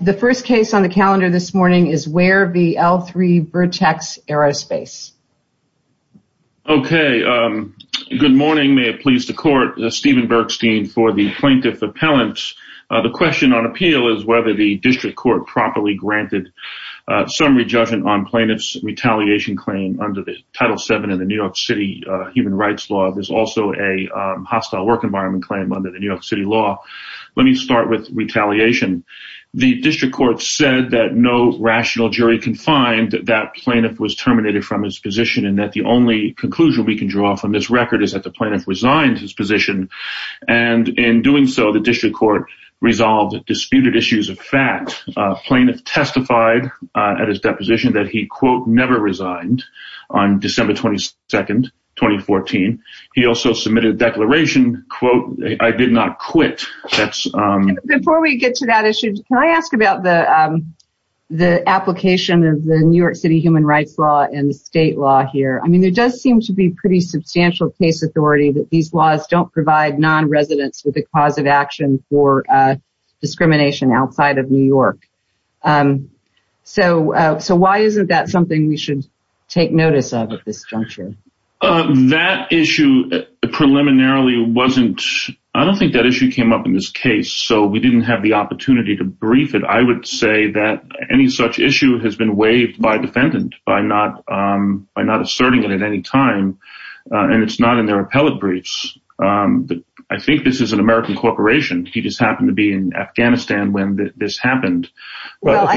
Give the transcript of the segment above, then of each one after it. The first case on the calendar this morning is Ware v. L-3 Vertex Aerospace. Okay, good morning. May it please the court, Stephen Bergstein for the plaintiff appellant. The question on appeal is whether the district court properly granted summary judgment on plaintiff's retaliation claim under the Title VII of the New York City Human Rights Law. There's also a hostile work environment claim under the New York City law. Let me start with retaliation. The district court said that no rational jury can find that that plaintiff was terminated from his position and that the only conclusion we can draw from this record is that the plaintiff resigned his position. And in doing so, the district court resolved disputed issues of fact. Plaintiff testified at his deposition that he, quote, never resigned on December 22nd, 2014. He also submitted a declaration, quote, I did not quit. Before we get to that issue, can I ask about the application of the New York City Human Rights Law and the state law here? I mean, there does seem to be pretty substantial case authority that these laws don't provide non-residents with a cause of action for discrimination outside of New York. Um, so, uh, so why isn't that something we should take notice of at this juncture? Uh, that issue preliminarily wasn't, I don't think that issue came up in this case. So we didn't have the opportunity to brief it. I would say that any such issue has been waived by defendant by not, um, by not asserting it at any time. Uh, and it's not in their appellate briefs. Um, I think this is an American corporation. He just happened to be in Afghanistan when this happened. Well,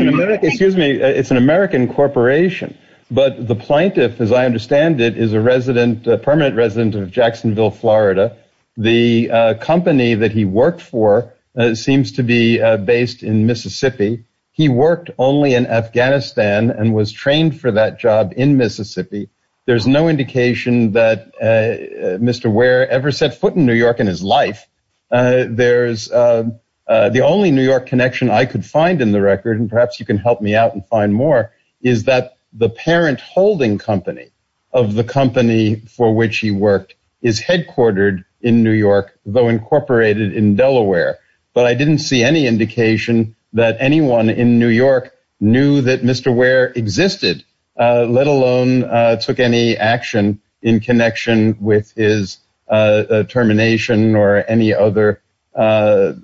excuse me. It's an American corporation, but the plaintiff, as I understand it, is a resident, a permanent resident of Jacksonville, Florida. The company that he worked for seems to be based in Mississippi. He worked only in Afghanistan and was trained for that job in Mississippi. There's no indication that, uh, Mr. Ware ever set foot in New York in his life. Uh, there's, uh, uh, the only New York connection I could find in the record, and perhaps you can help me out and find more, is that the parent holding company of the company for which he worked is headquartered in New York, though incorporated in Delaware. But I didn't see any indication that anyone in New York knew that Mr. Ware existed, uh, let alone, uh, took any action in connection with his, uh, uh, termination or any other, uh,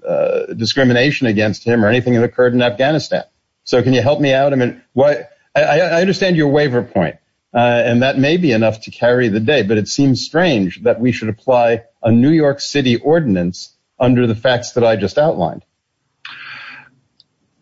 uh, discrimination against him or anything that occurred in Afghanistan. So can you help me out? I mean, what I understand your waiver point, uh, and that may be enough to carry the day, but it seems strange that we should apply a New York city ordinance under the facts that I just outlined.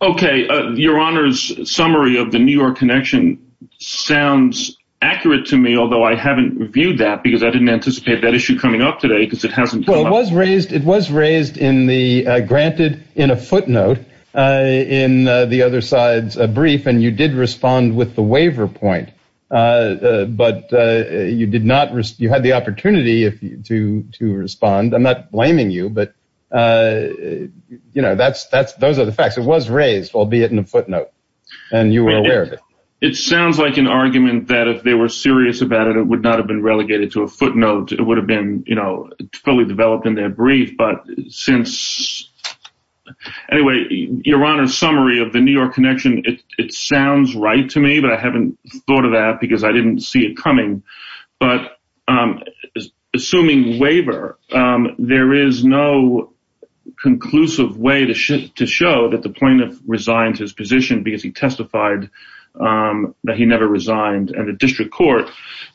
Okay. Uh, your honors summary of the New York connection sounds accurate to me, although I haven't reviewed that because I didn't anticipate that issue coming up today because it hasn't. Well, it was raised. It was raised in the, uh, granted in a footnote, uh, in, uh, the other sides, a brief, and you did respond with the waiver point. Uh, uh, but, uh, you did not risk, you had the opportunity to, to respond. I'm not blaming you, but, uh, you know, that's, that's, those are the facts. It was raised, albeit in a footnote and you were aware of it. It sounds like an argument that if they were serious about it, it would not have been relegated to a footnote. It would have been, you know, fully developed in their brief, but since anyway, your honor summary of the New York connection, it sounds right to me, but I haven't thought of that because I didn't see it coming, but, um, assuming waiver, um, there is no conclusive way to show that the plaintiff resigned his position because he testified, um, that he never resigned at a district court.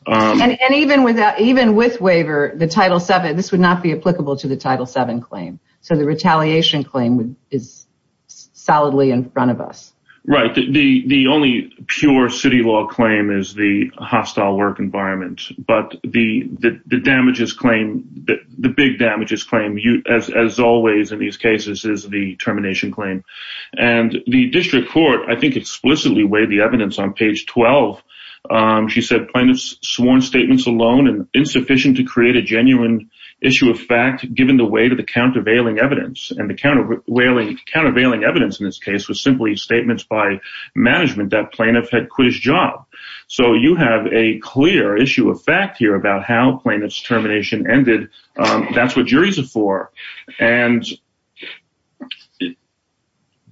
And even with that, even with waiver, the title seven, this would not be applicable to the title seven claim. So the retaliation claim is solidly in front of us. Right. The, the only pure city law claim is the hostile work environment, but the, the, the damages claim, the big damages claim you, as, as always in these cases is the termination claim. And the district court, I think explicitly weighed the evidence on page 12. Um, she said plaintiff's sworn statements alone and insufficient to create a genuine issue of fact, given the way to the countervailing evidence and the counter whaling countervailing evidence in this case was simply statements by management that plaintiff had quit his job. So you have a clear issue of fact here about how plaintiff's termination ended. Um, that's what juries are for and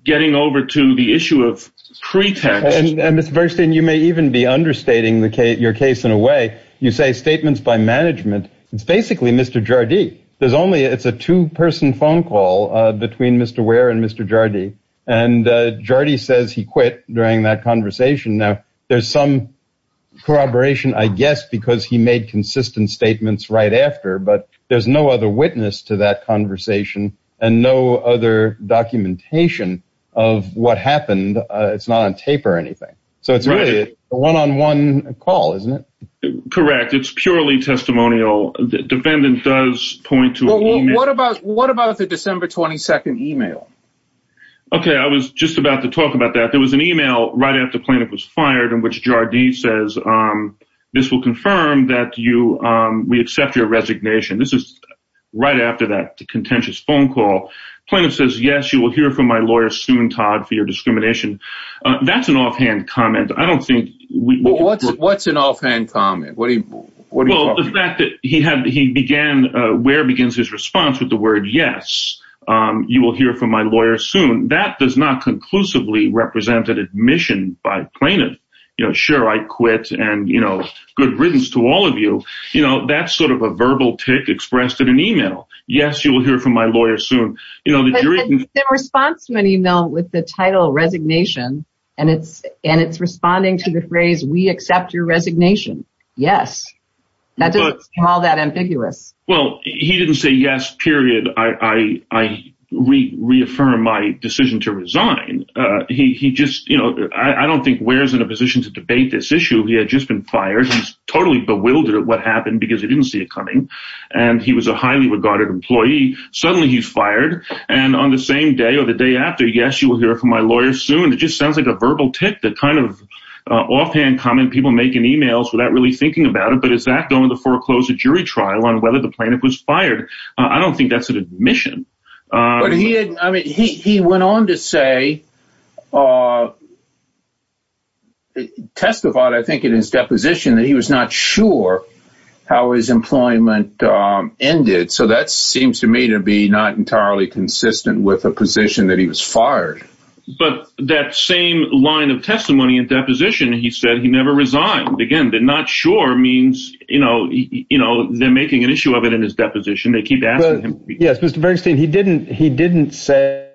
getting over to the issue of pretext. And Mr. Bernstein, you may even be understating the case, your case in a way you say statements by management. It's basically Mr. Jardy. There's only, it's a two person phone call between Mr. Ware and Mr. Jardy. And Jardy says he quit during that conversation. Now there's some corroboration, I guess, because he made consistent statements right after, but there's no other witness to that conversation and no other documentation of what happened. Uh, it's not on tape or anything. So it's really a one-on-one call, isn't it? Correct. It's purely testimonial. The defendant does point to what about, what about the December 22nd email? Okay. I was just about to talk about that. There was an email right after plaintiff was fired in which Jardy says, um, this will confirm that you, um, we accept your resignation. This is right after that contentious phone call plaintiff says, yes, you will hear from my lawyer soon, Todd, for your discrimination. Uh, that's an offhand comment. I don't think we, what's, what's an offhand comment. What do you, well, the fact that he had, he began, where begins his response with the word? Yes. Um, you will hear from my lawyer soon that does not conclusively represented admission by plaintiff, you know, sure. I quit and, you know, good riddance to all of you. You know, that's sort of a verbal tick expressed in an email. Yes. You will hear from my lawyer soon. You know, the response to an email with the title resignation and it's, and it's responding to the phrase, we accept your resignation. Yes. That doesn't sound that ambiguous. Well, he didn't say yes, period. I, I, I re reaffirm my decision to resign. Uh, he, he just, you know, I don't think where's in a position to debate this issue. He had just been fired. He's totally bewildered at what happened because he didn't see it coming. And he was a highly regarded employee. Suddenly he's fired. And on the same day or the day after, yes, you will hear from my lawyer soon. It just sounds like a verbal tip that kind of, uh, offhand comment people making emails without really thinking about it. But is that going to foreclose a jury trial on whether the plaintiff was fired? Uh, I don't think that's an admission. Uh, but he had, I mean, he, he went on to say, uh, testify, I think in his deposition that he was not sure how his employment, um, ended. So that seems to me to be not entirely consistent with a position that he was fired, but that same line of testimony and deposition, he said he never resigned again, but not sure means, you know, you know, they're making an issue of it in his deposition. They keep asking him. Yes. Mr. Bernstein, he didn't, he didn't say,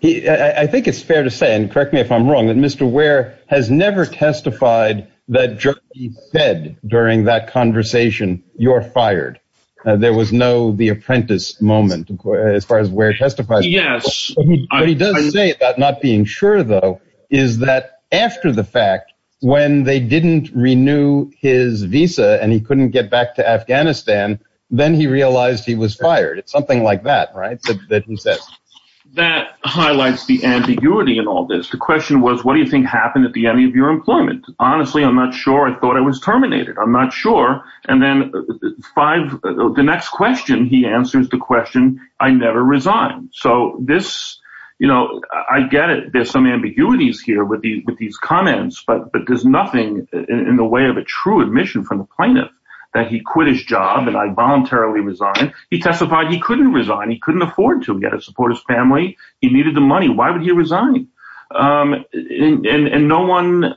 he, I think it's fair to say, and correct me if I'm wrong, that Mr. Ware has never testified that he said during that conversation, you're fired. Uh, there was no, the apprentice moment as far as where it testifies, but he does say that not being sure though, is that after the fact when they didn't renew his visa and he couldn't get back to Afghanistan, then he realized he was fired. It's something like that, right? That he says that highlights the ambiguity in all this. The question was, what do you think happened at the end of your employment? Honestly, I'm not sure. I thought I was terminated. I'm not sure. And then five, the next question, he answers the question. I never resigned. So this, you know, I get it. There's some ambiguities here with these, with these comments, but, but there's nothing in the way of a true admission from the plaintiff that he quit his job and I voluntarily resigned. He testified he couldn't resign. He couldn't afford to get to support his family. He needed the money. Why would he resign? Um, and, and, and no one,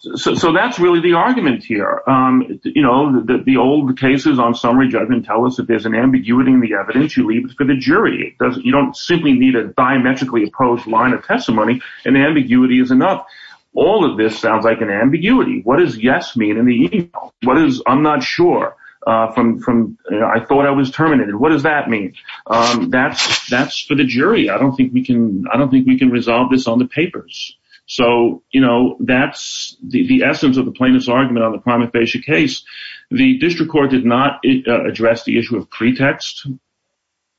so, so that's really the argument here. Um, you know, the, the old cases on summary judgment tell us that there's an ambiguity in the evidence you leave for the jury. It doesn't, you don't simply need a diametrically opposed line of testimony and ambiguity is enough. All of this sounds like an ambiguity. What does yes mean in the email? What is, I'm not sure, uh, from, from, you know, I thought I was terminated. What does that mean? Um, that's, that's for the jury. I don't think we can, I don't think we can resolve this on the papers. So, you know, that's the, the essence of the plaintiff's argument on the prima facie case. The district court did not address the issue of pretext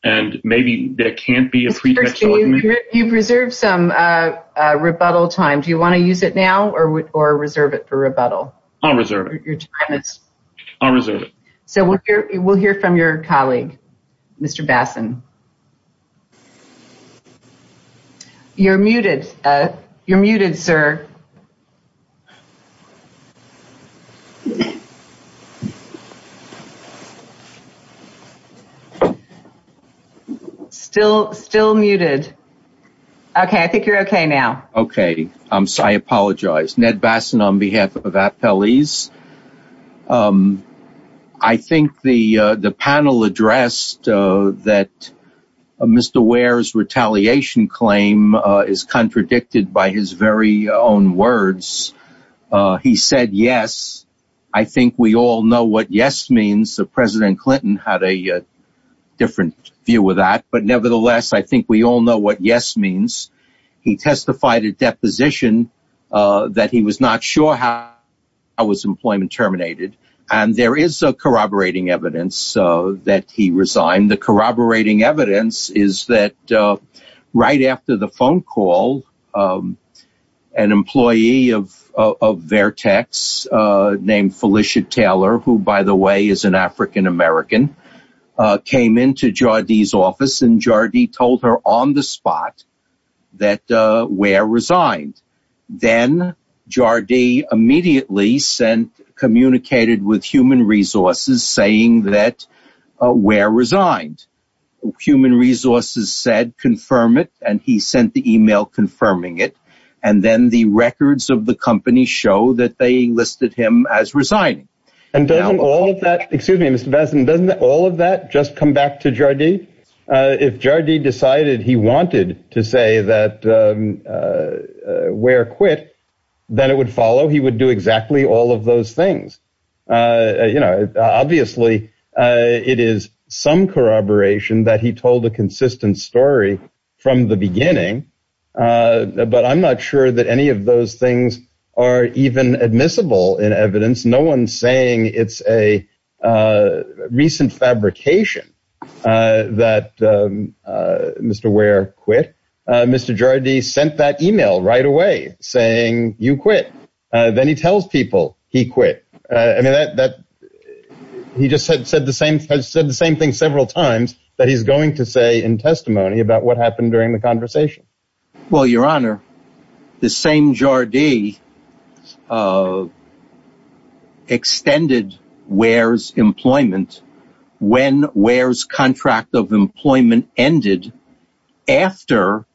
and maybe there can't be a pretext. You've reserved some, uh, uh, rebuttal time. Do you want to use it now or, or reserve it for rebuttal? I'll reserve it. I'll reserve it. So we'll hear, we'll hear from your colleague, Mr. Bassan. You're muted. Uh, you're muted, sir. Still, still muted. Okay. I think you're okay now. Okay. Um, so I apologize. Ned Bassan on behalf of Appellees. Um, I think the, uh, the panel addressed, uh, that, uh, Mr. Ware's retaliation claim, uh, is contradicted by his very own words. Uh, he said, yes, I think we all know what yes means. The president Clinton had a different view with that, but nevertheless, I think we all know what yes means. He testified at deposition, uh, that he was not sure how I was employment terminated. And there is a corroborating evidence, uh, that he resigned. The corroborating evidence is that, uh, right after the phone call, um, an employee of, of Vertex, uh, named Felicia Taylor, who by the way, is an African-American, uh, came into Jardy's office and Jardy told her on the spot that, uh, where resigned. Then Jardy immediately sent, communicated with human resources saying that, uh, where resigned human resources said, confirm it. And he sent the email confirming it. And then the records of the company show that they listed him as resigning. And doesn't all of that, excuse me, Mr. Basin, doesn't all of that just come back to Jardy? Uh, if Jardy decided he wanted to say that, um, uh, where quit, then it would follow. He would do exactly all of those things. Uh, you know, obviously, uh, it is some corroboration that he Uh, but I'm not sure that any of those things are even admissible in evidence. No one's saying it's a, uh, recent fabrication, uh, that, um, uh, Mr. Ware quit. Uh, Mr. Jardy sent that email right away saying you quit. Uh, then he tells people he quit. Uh, I mean that, that he just said, said the same, said the same thing several times that he's going to say in testimony about what happened during the conversation. Well, your honor, the same Jardy, uh, extended Ware's employment when Ware's contract of employment ended after,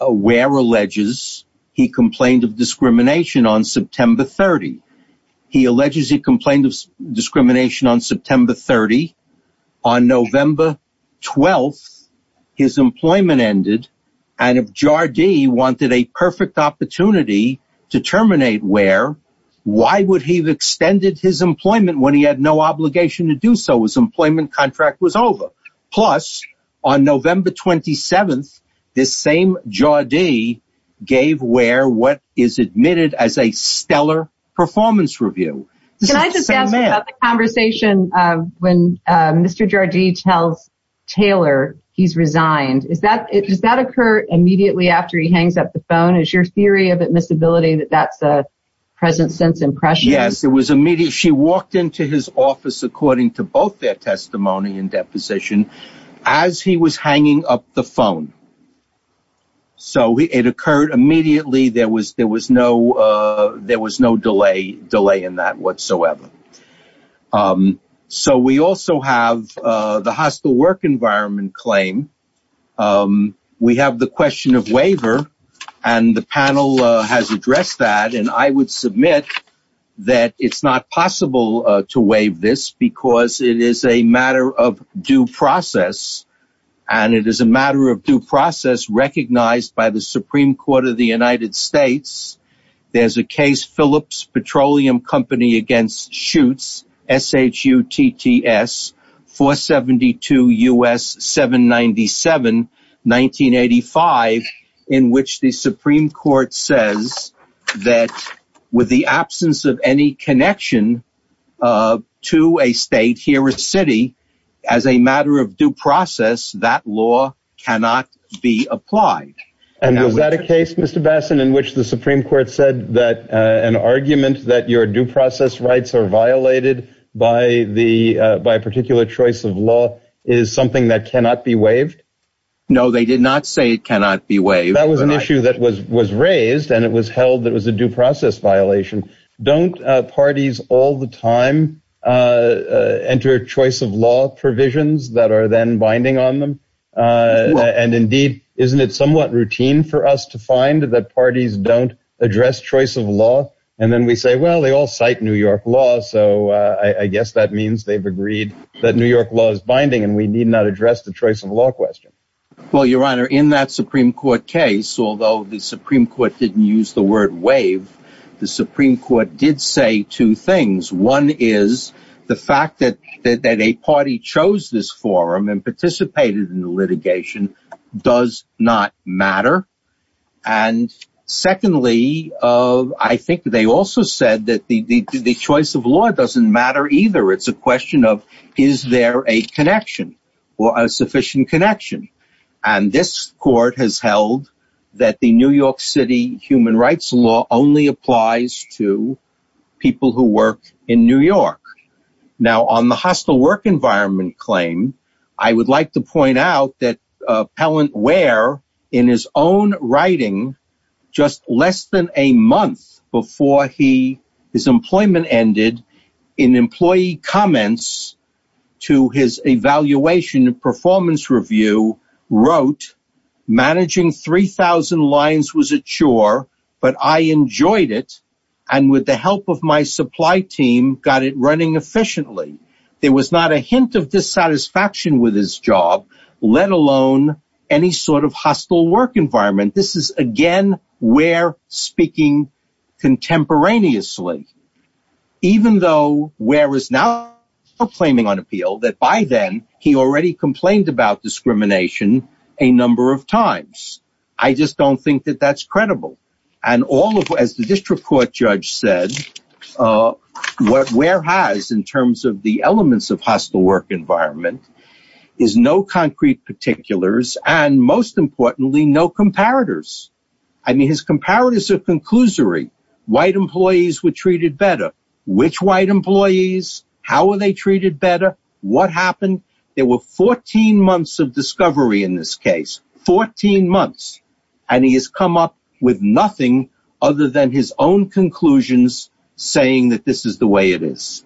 uh, Ware alleges he complained of discrimination on September 30. He alleges he complained of discrimination on September 30. On November 12th, his employment ended and if Jardy wanted a perfect opportunity to terminate Ware, why would he have extended his employment when he had no obligation to do so? His employment contract was over. Plus on November 27th, this same Jardy gave Ware what is admitted as a stellar performance review. Can I just ask about the conversation, uh, when, uh, Mr. Jardy tells Taylor he's resigned. Is that, does that occur immediately after he hangs up the phone? Is your theory of admissibility that that's a present sense impression? Yes, it was immediate. She walked into his office according to both their testimony and deposition as he was hanging up the phone. So it occurred immediately. There was, there was no, uh, there was no delay, delay in that whatsoever. Um, so we also have, uh, the hostile work environment claim. Um, we have the question of waiver and the panel has addressed that. And I would submit that it's not possible to waive this because it is a matter of due process and it is a matter of process recognized by the Supreme Court of the United States. There's a case Phillips Petroleum Company against shoots. S H U T T S four 72 us seven 97 1985 in which the Supreme Court says that with the absence of any connection, uh, to a state here, a city as a matter of due process, that law cannot be applied. And was that a case Mr. Bassan in which the Supreme Court said that an argument that your due process rights are violated by the, uh, by a particular choice of law is something that cannot be waived. No, they did not say it cannot be waived. That was an issue that was, was raised and it was held that it was a due process violation. Don't, uh, parties all the time, uh, uh, enter choice of law provisions that are then binding on them. Uh, and indeed, isn't it somewhat routine for us to find that parties don't address choice of law? And then we say, well, they all cite New York law. So, uh, I guess that means they've agreed that New York law is binding and we need not address the choice of law question. Well, your Honor, in that Supreme Court case, although the Supreme Court didn't use the word waive, the Supreme Court did say two things. One is the fact that, that a party chose this forum and participated in the litigation does not matter. And secondly, uh, I think they also said that the, the, the choice of law doesn't matter either. It's a question of, is there a connection or a sufficient connection? And this court has held that the New York City human rights law only applies to people who work in New York. Now on the hostile work environment claim, I would like to point out that, uh, Pellant Ware in his own writing, just less than a month before he, his employment ended in employee comments to his evaluation and performance review wrote managing 3000 lines was a chore, but I enjoyed it. And with the help of my supply team got it running efficiently. There was not a hint of dissatisfaction with his job, let alone any sort of hostile work environment. This is again, where speaking contemporaneously, even though where is now claiming on appeal that by then he already complained about discrimination a number of times. I just don't think that that's credible. And all of, as the district court judge said, uh, what, where has, in terms of the elements of hostile work environment is no concrete particulars and most importantly, no comparators. I mean, his comparators are conclusory white employees were treated better, which white employees, how are they treated better? What happened? There were 14 months of discovery in this case, 14 months, and he has come up with nothing other than his own conclusions saying that this is the way it is.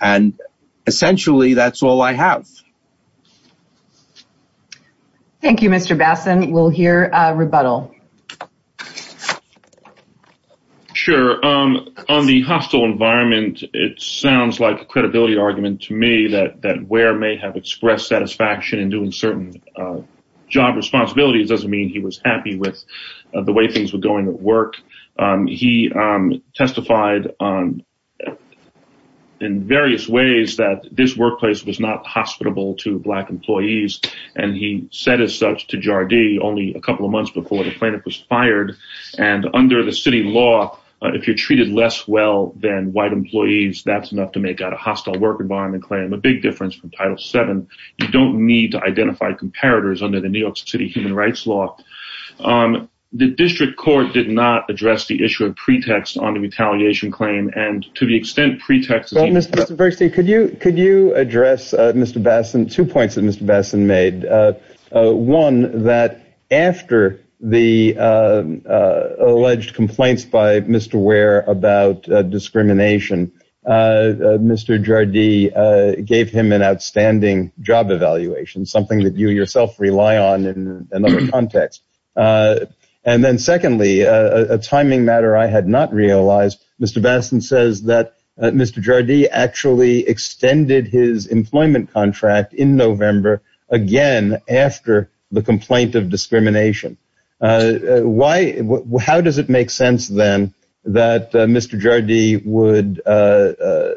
And essentially that's all I have. Thank you, Mr. Bassin. We'll hear a rebuttal. Sure. Um, on the hostile environment, it sounds like a credibility argument to me that, that doesn't mean he was happy with the way things were going at work. Um, he, um, testified on in various ways that this workplace was not hospitable to black employees. And he said as such to Jardee only a couple of months before the plaintiff was fired. And under the city law, if you're treated less well than white employees, that's enough to make out a hostile work environment claim a big difference from title seven. You don't need to identify comparators under the New York city human rights law. Um, the district court did not address the issue of pretext on the retaliation claim. And to the extent pretext, could you, could you address, uh, Mr. Bassin, two points that Mr. Bassin made, uh, uh, one that after the, um, uh, alleged complaints by Mr. Ware about discrimination, uh, uh, Mr. Jardee, uh, gave him an outstanding job evaluation, something that you yourself rely on in another context. Uh, and then secondly, uh, a timing matter I had not realized Mr. Bassin says that Mr. Jardee actually extended his employment contract in November again, after the complaint of discrimination. Uh, why, how does it make sense then that, uh, Mr. Jardee would, uh, uh,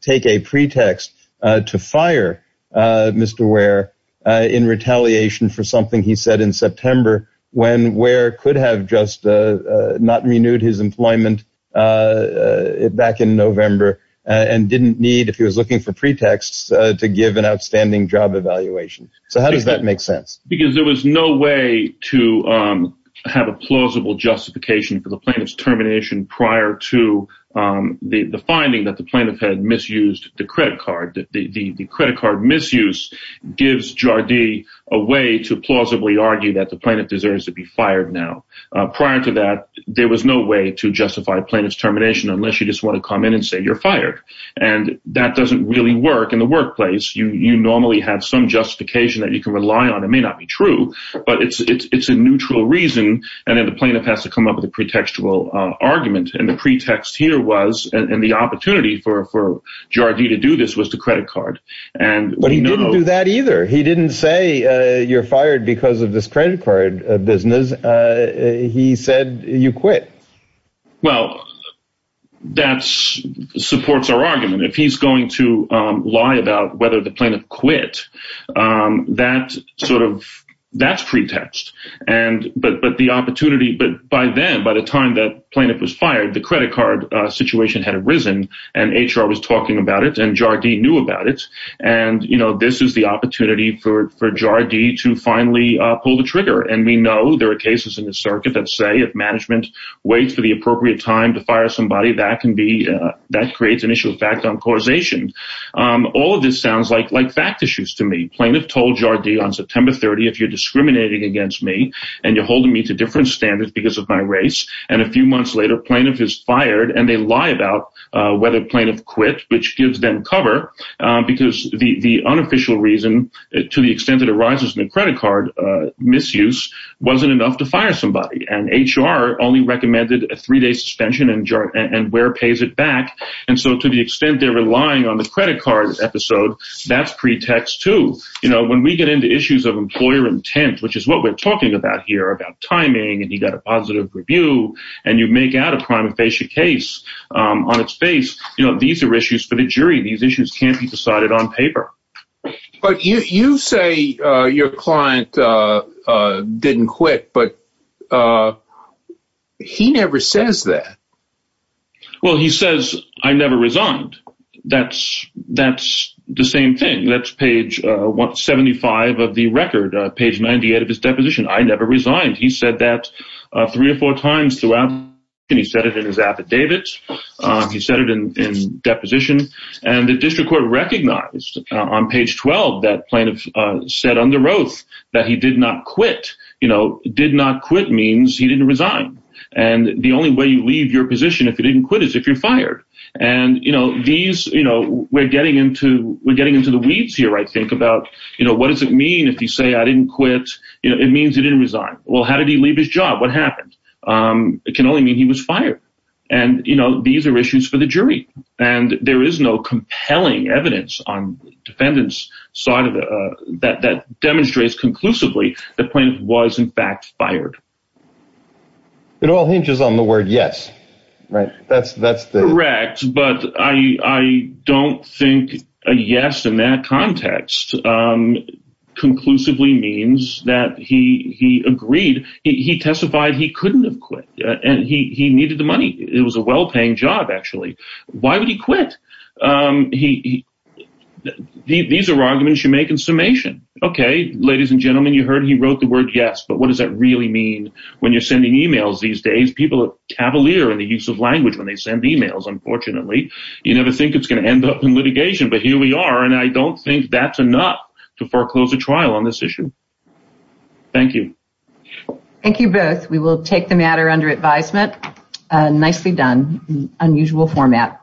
take a pretext, uh, to fire, uh, Mr. Ware, uh, in retaliation for something he said in September, when Ware could have just, uh, uh, not renewed his employment, uh, uh, back in November and didn't need, if he was looking for pretexts, uh, to give an outstanding job evaluation. So how does that make sense? Because there was no way to, um, have a plausible justification for the plaintiff's termination prior to, um, the, the finding that the plaintiff had misused the credit card, that the, the, the credit card misuse gives Jardee a way to plausibly argue that the plaintiff deserves to be fired now. Uh, prior to that, there was no way to justify plaintiff's termination, unless you just want to come in and say you're fired. And that doesn't really work in the workplace. You, you normally have some justification that you can rely on. It may not be true, but it's, it's, it's a neutral reason. And then the plaintiff has to come up with a pretextual, uh, argument. And the pretext here was, and the opportunity for, for Jardee to do this was to credit card. And he didn't do that either. He didn't say, uh, you're fired because of this credit card business. Uh, he said you quit. Well, that's supports our argument. If he's going to, um, lie about whether the plaintiff quit, um, that sort of that's pretext. And, but, but the opportunity, but by then, by the time that plaintiff was fired, the credit card situation had arisen and HR was talking about it and Jardee knew about it. And, you know, this is the opportunity for, for Jardee to finally pull the trigger. And we know there are cases in the circuit that say if management waits for the appropriate time to fire somebody that can be, that creates an issue of fact on causation. Um, all of this sounds like, like fact issues to me. Plaintiff told Jardee on September 30, if you're discriminating against me and you're holding me to different standards because of my race. And a few months later, plaintiff is fired and they lie about, uh, whether plaintiff quit, which gives them cover, um, because the, the unofficial reason to the extent that arises in the credit card, uh, misuse wasn't enough to fire somebody. And HR only recommended a three-day suspension and where pays it back. And so to the extent they're relying on the credit card episode, that's pretext to, you know, when we get into issues of employer intent, which is what we're talking about here about timing and you got a positive review and you make out a prima facie case, um, on its face, you know, these are issues for the jury. These issues can't be decided on paper. But you, you say, uh, your client, uh, uh, didn't quit, but, uh, he never says that. Well, he says, I never resigned. That's, that's the same thing. That's page, uh, 175 of the record, uh, page 98 of his deposition. I never resigned. He said that, uh, three or four times and he said it in his affidavits. Um, he said it in, in deposition and the district court recognized on page 12, that plaintiff, uh, said under oath that he did not quit, you know, did not quit means he didn't resign. And the only way you leave your position, if you didn't quit is if you're fired and you know, these, you know, we're getting into, we're getting into the weeds here. I think about, you know, what does it mean if you say I didn't quit? You know, it means you didn't resign. Well, how did he leave his job? What happened? Um, it can only mean he was fired and you know, these are issues for the jury and there is no compelling evidence on defendants side of the, uh, that, that demonstrates conclusively the point of was in fact fired. It all hinges on the word. Yes. Right. That's, that's correct. But I, I don't think a yes in that context, um, conclusively means that he, he agreed, he testified he couldn't have quit and he, he needed the money. It was a well-paying job actually. Why would he quit? Um, he, these are arguments you make in summation. Okay. Ladies and gentlemen, you heard, he wrote the word yes, but what does that really mean when you're sending emails these days? People are cavalier in the use of language when they send emails, unfortunately, you never think it's going end up in litigation, but here we are. And I don't think that's enough to foreclose a trial on this issue. Thank you. Thank you both. We will take the matter under advisement. Nicely done. Unusual format.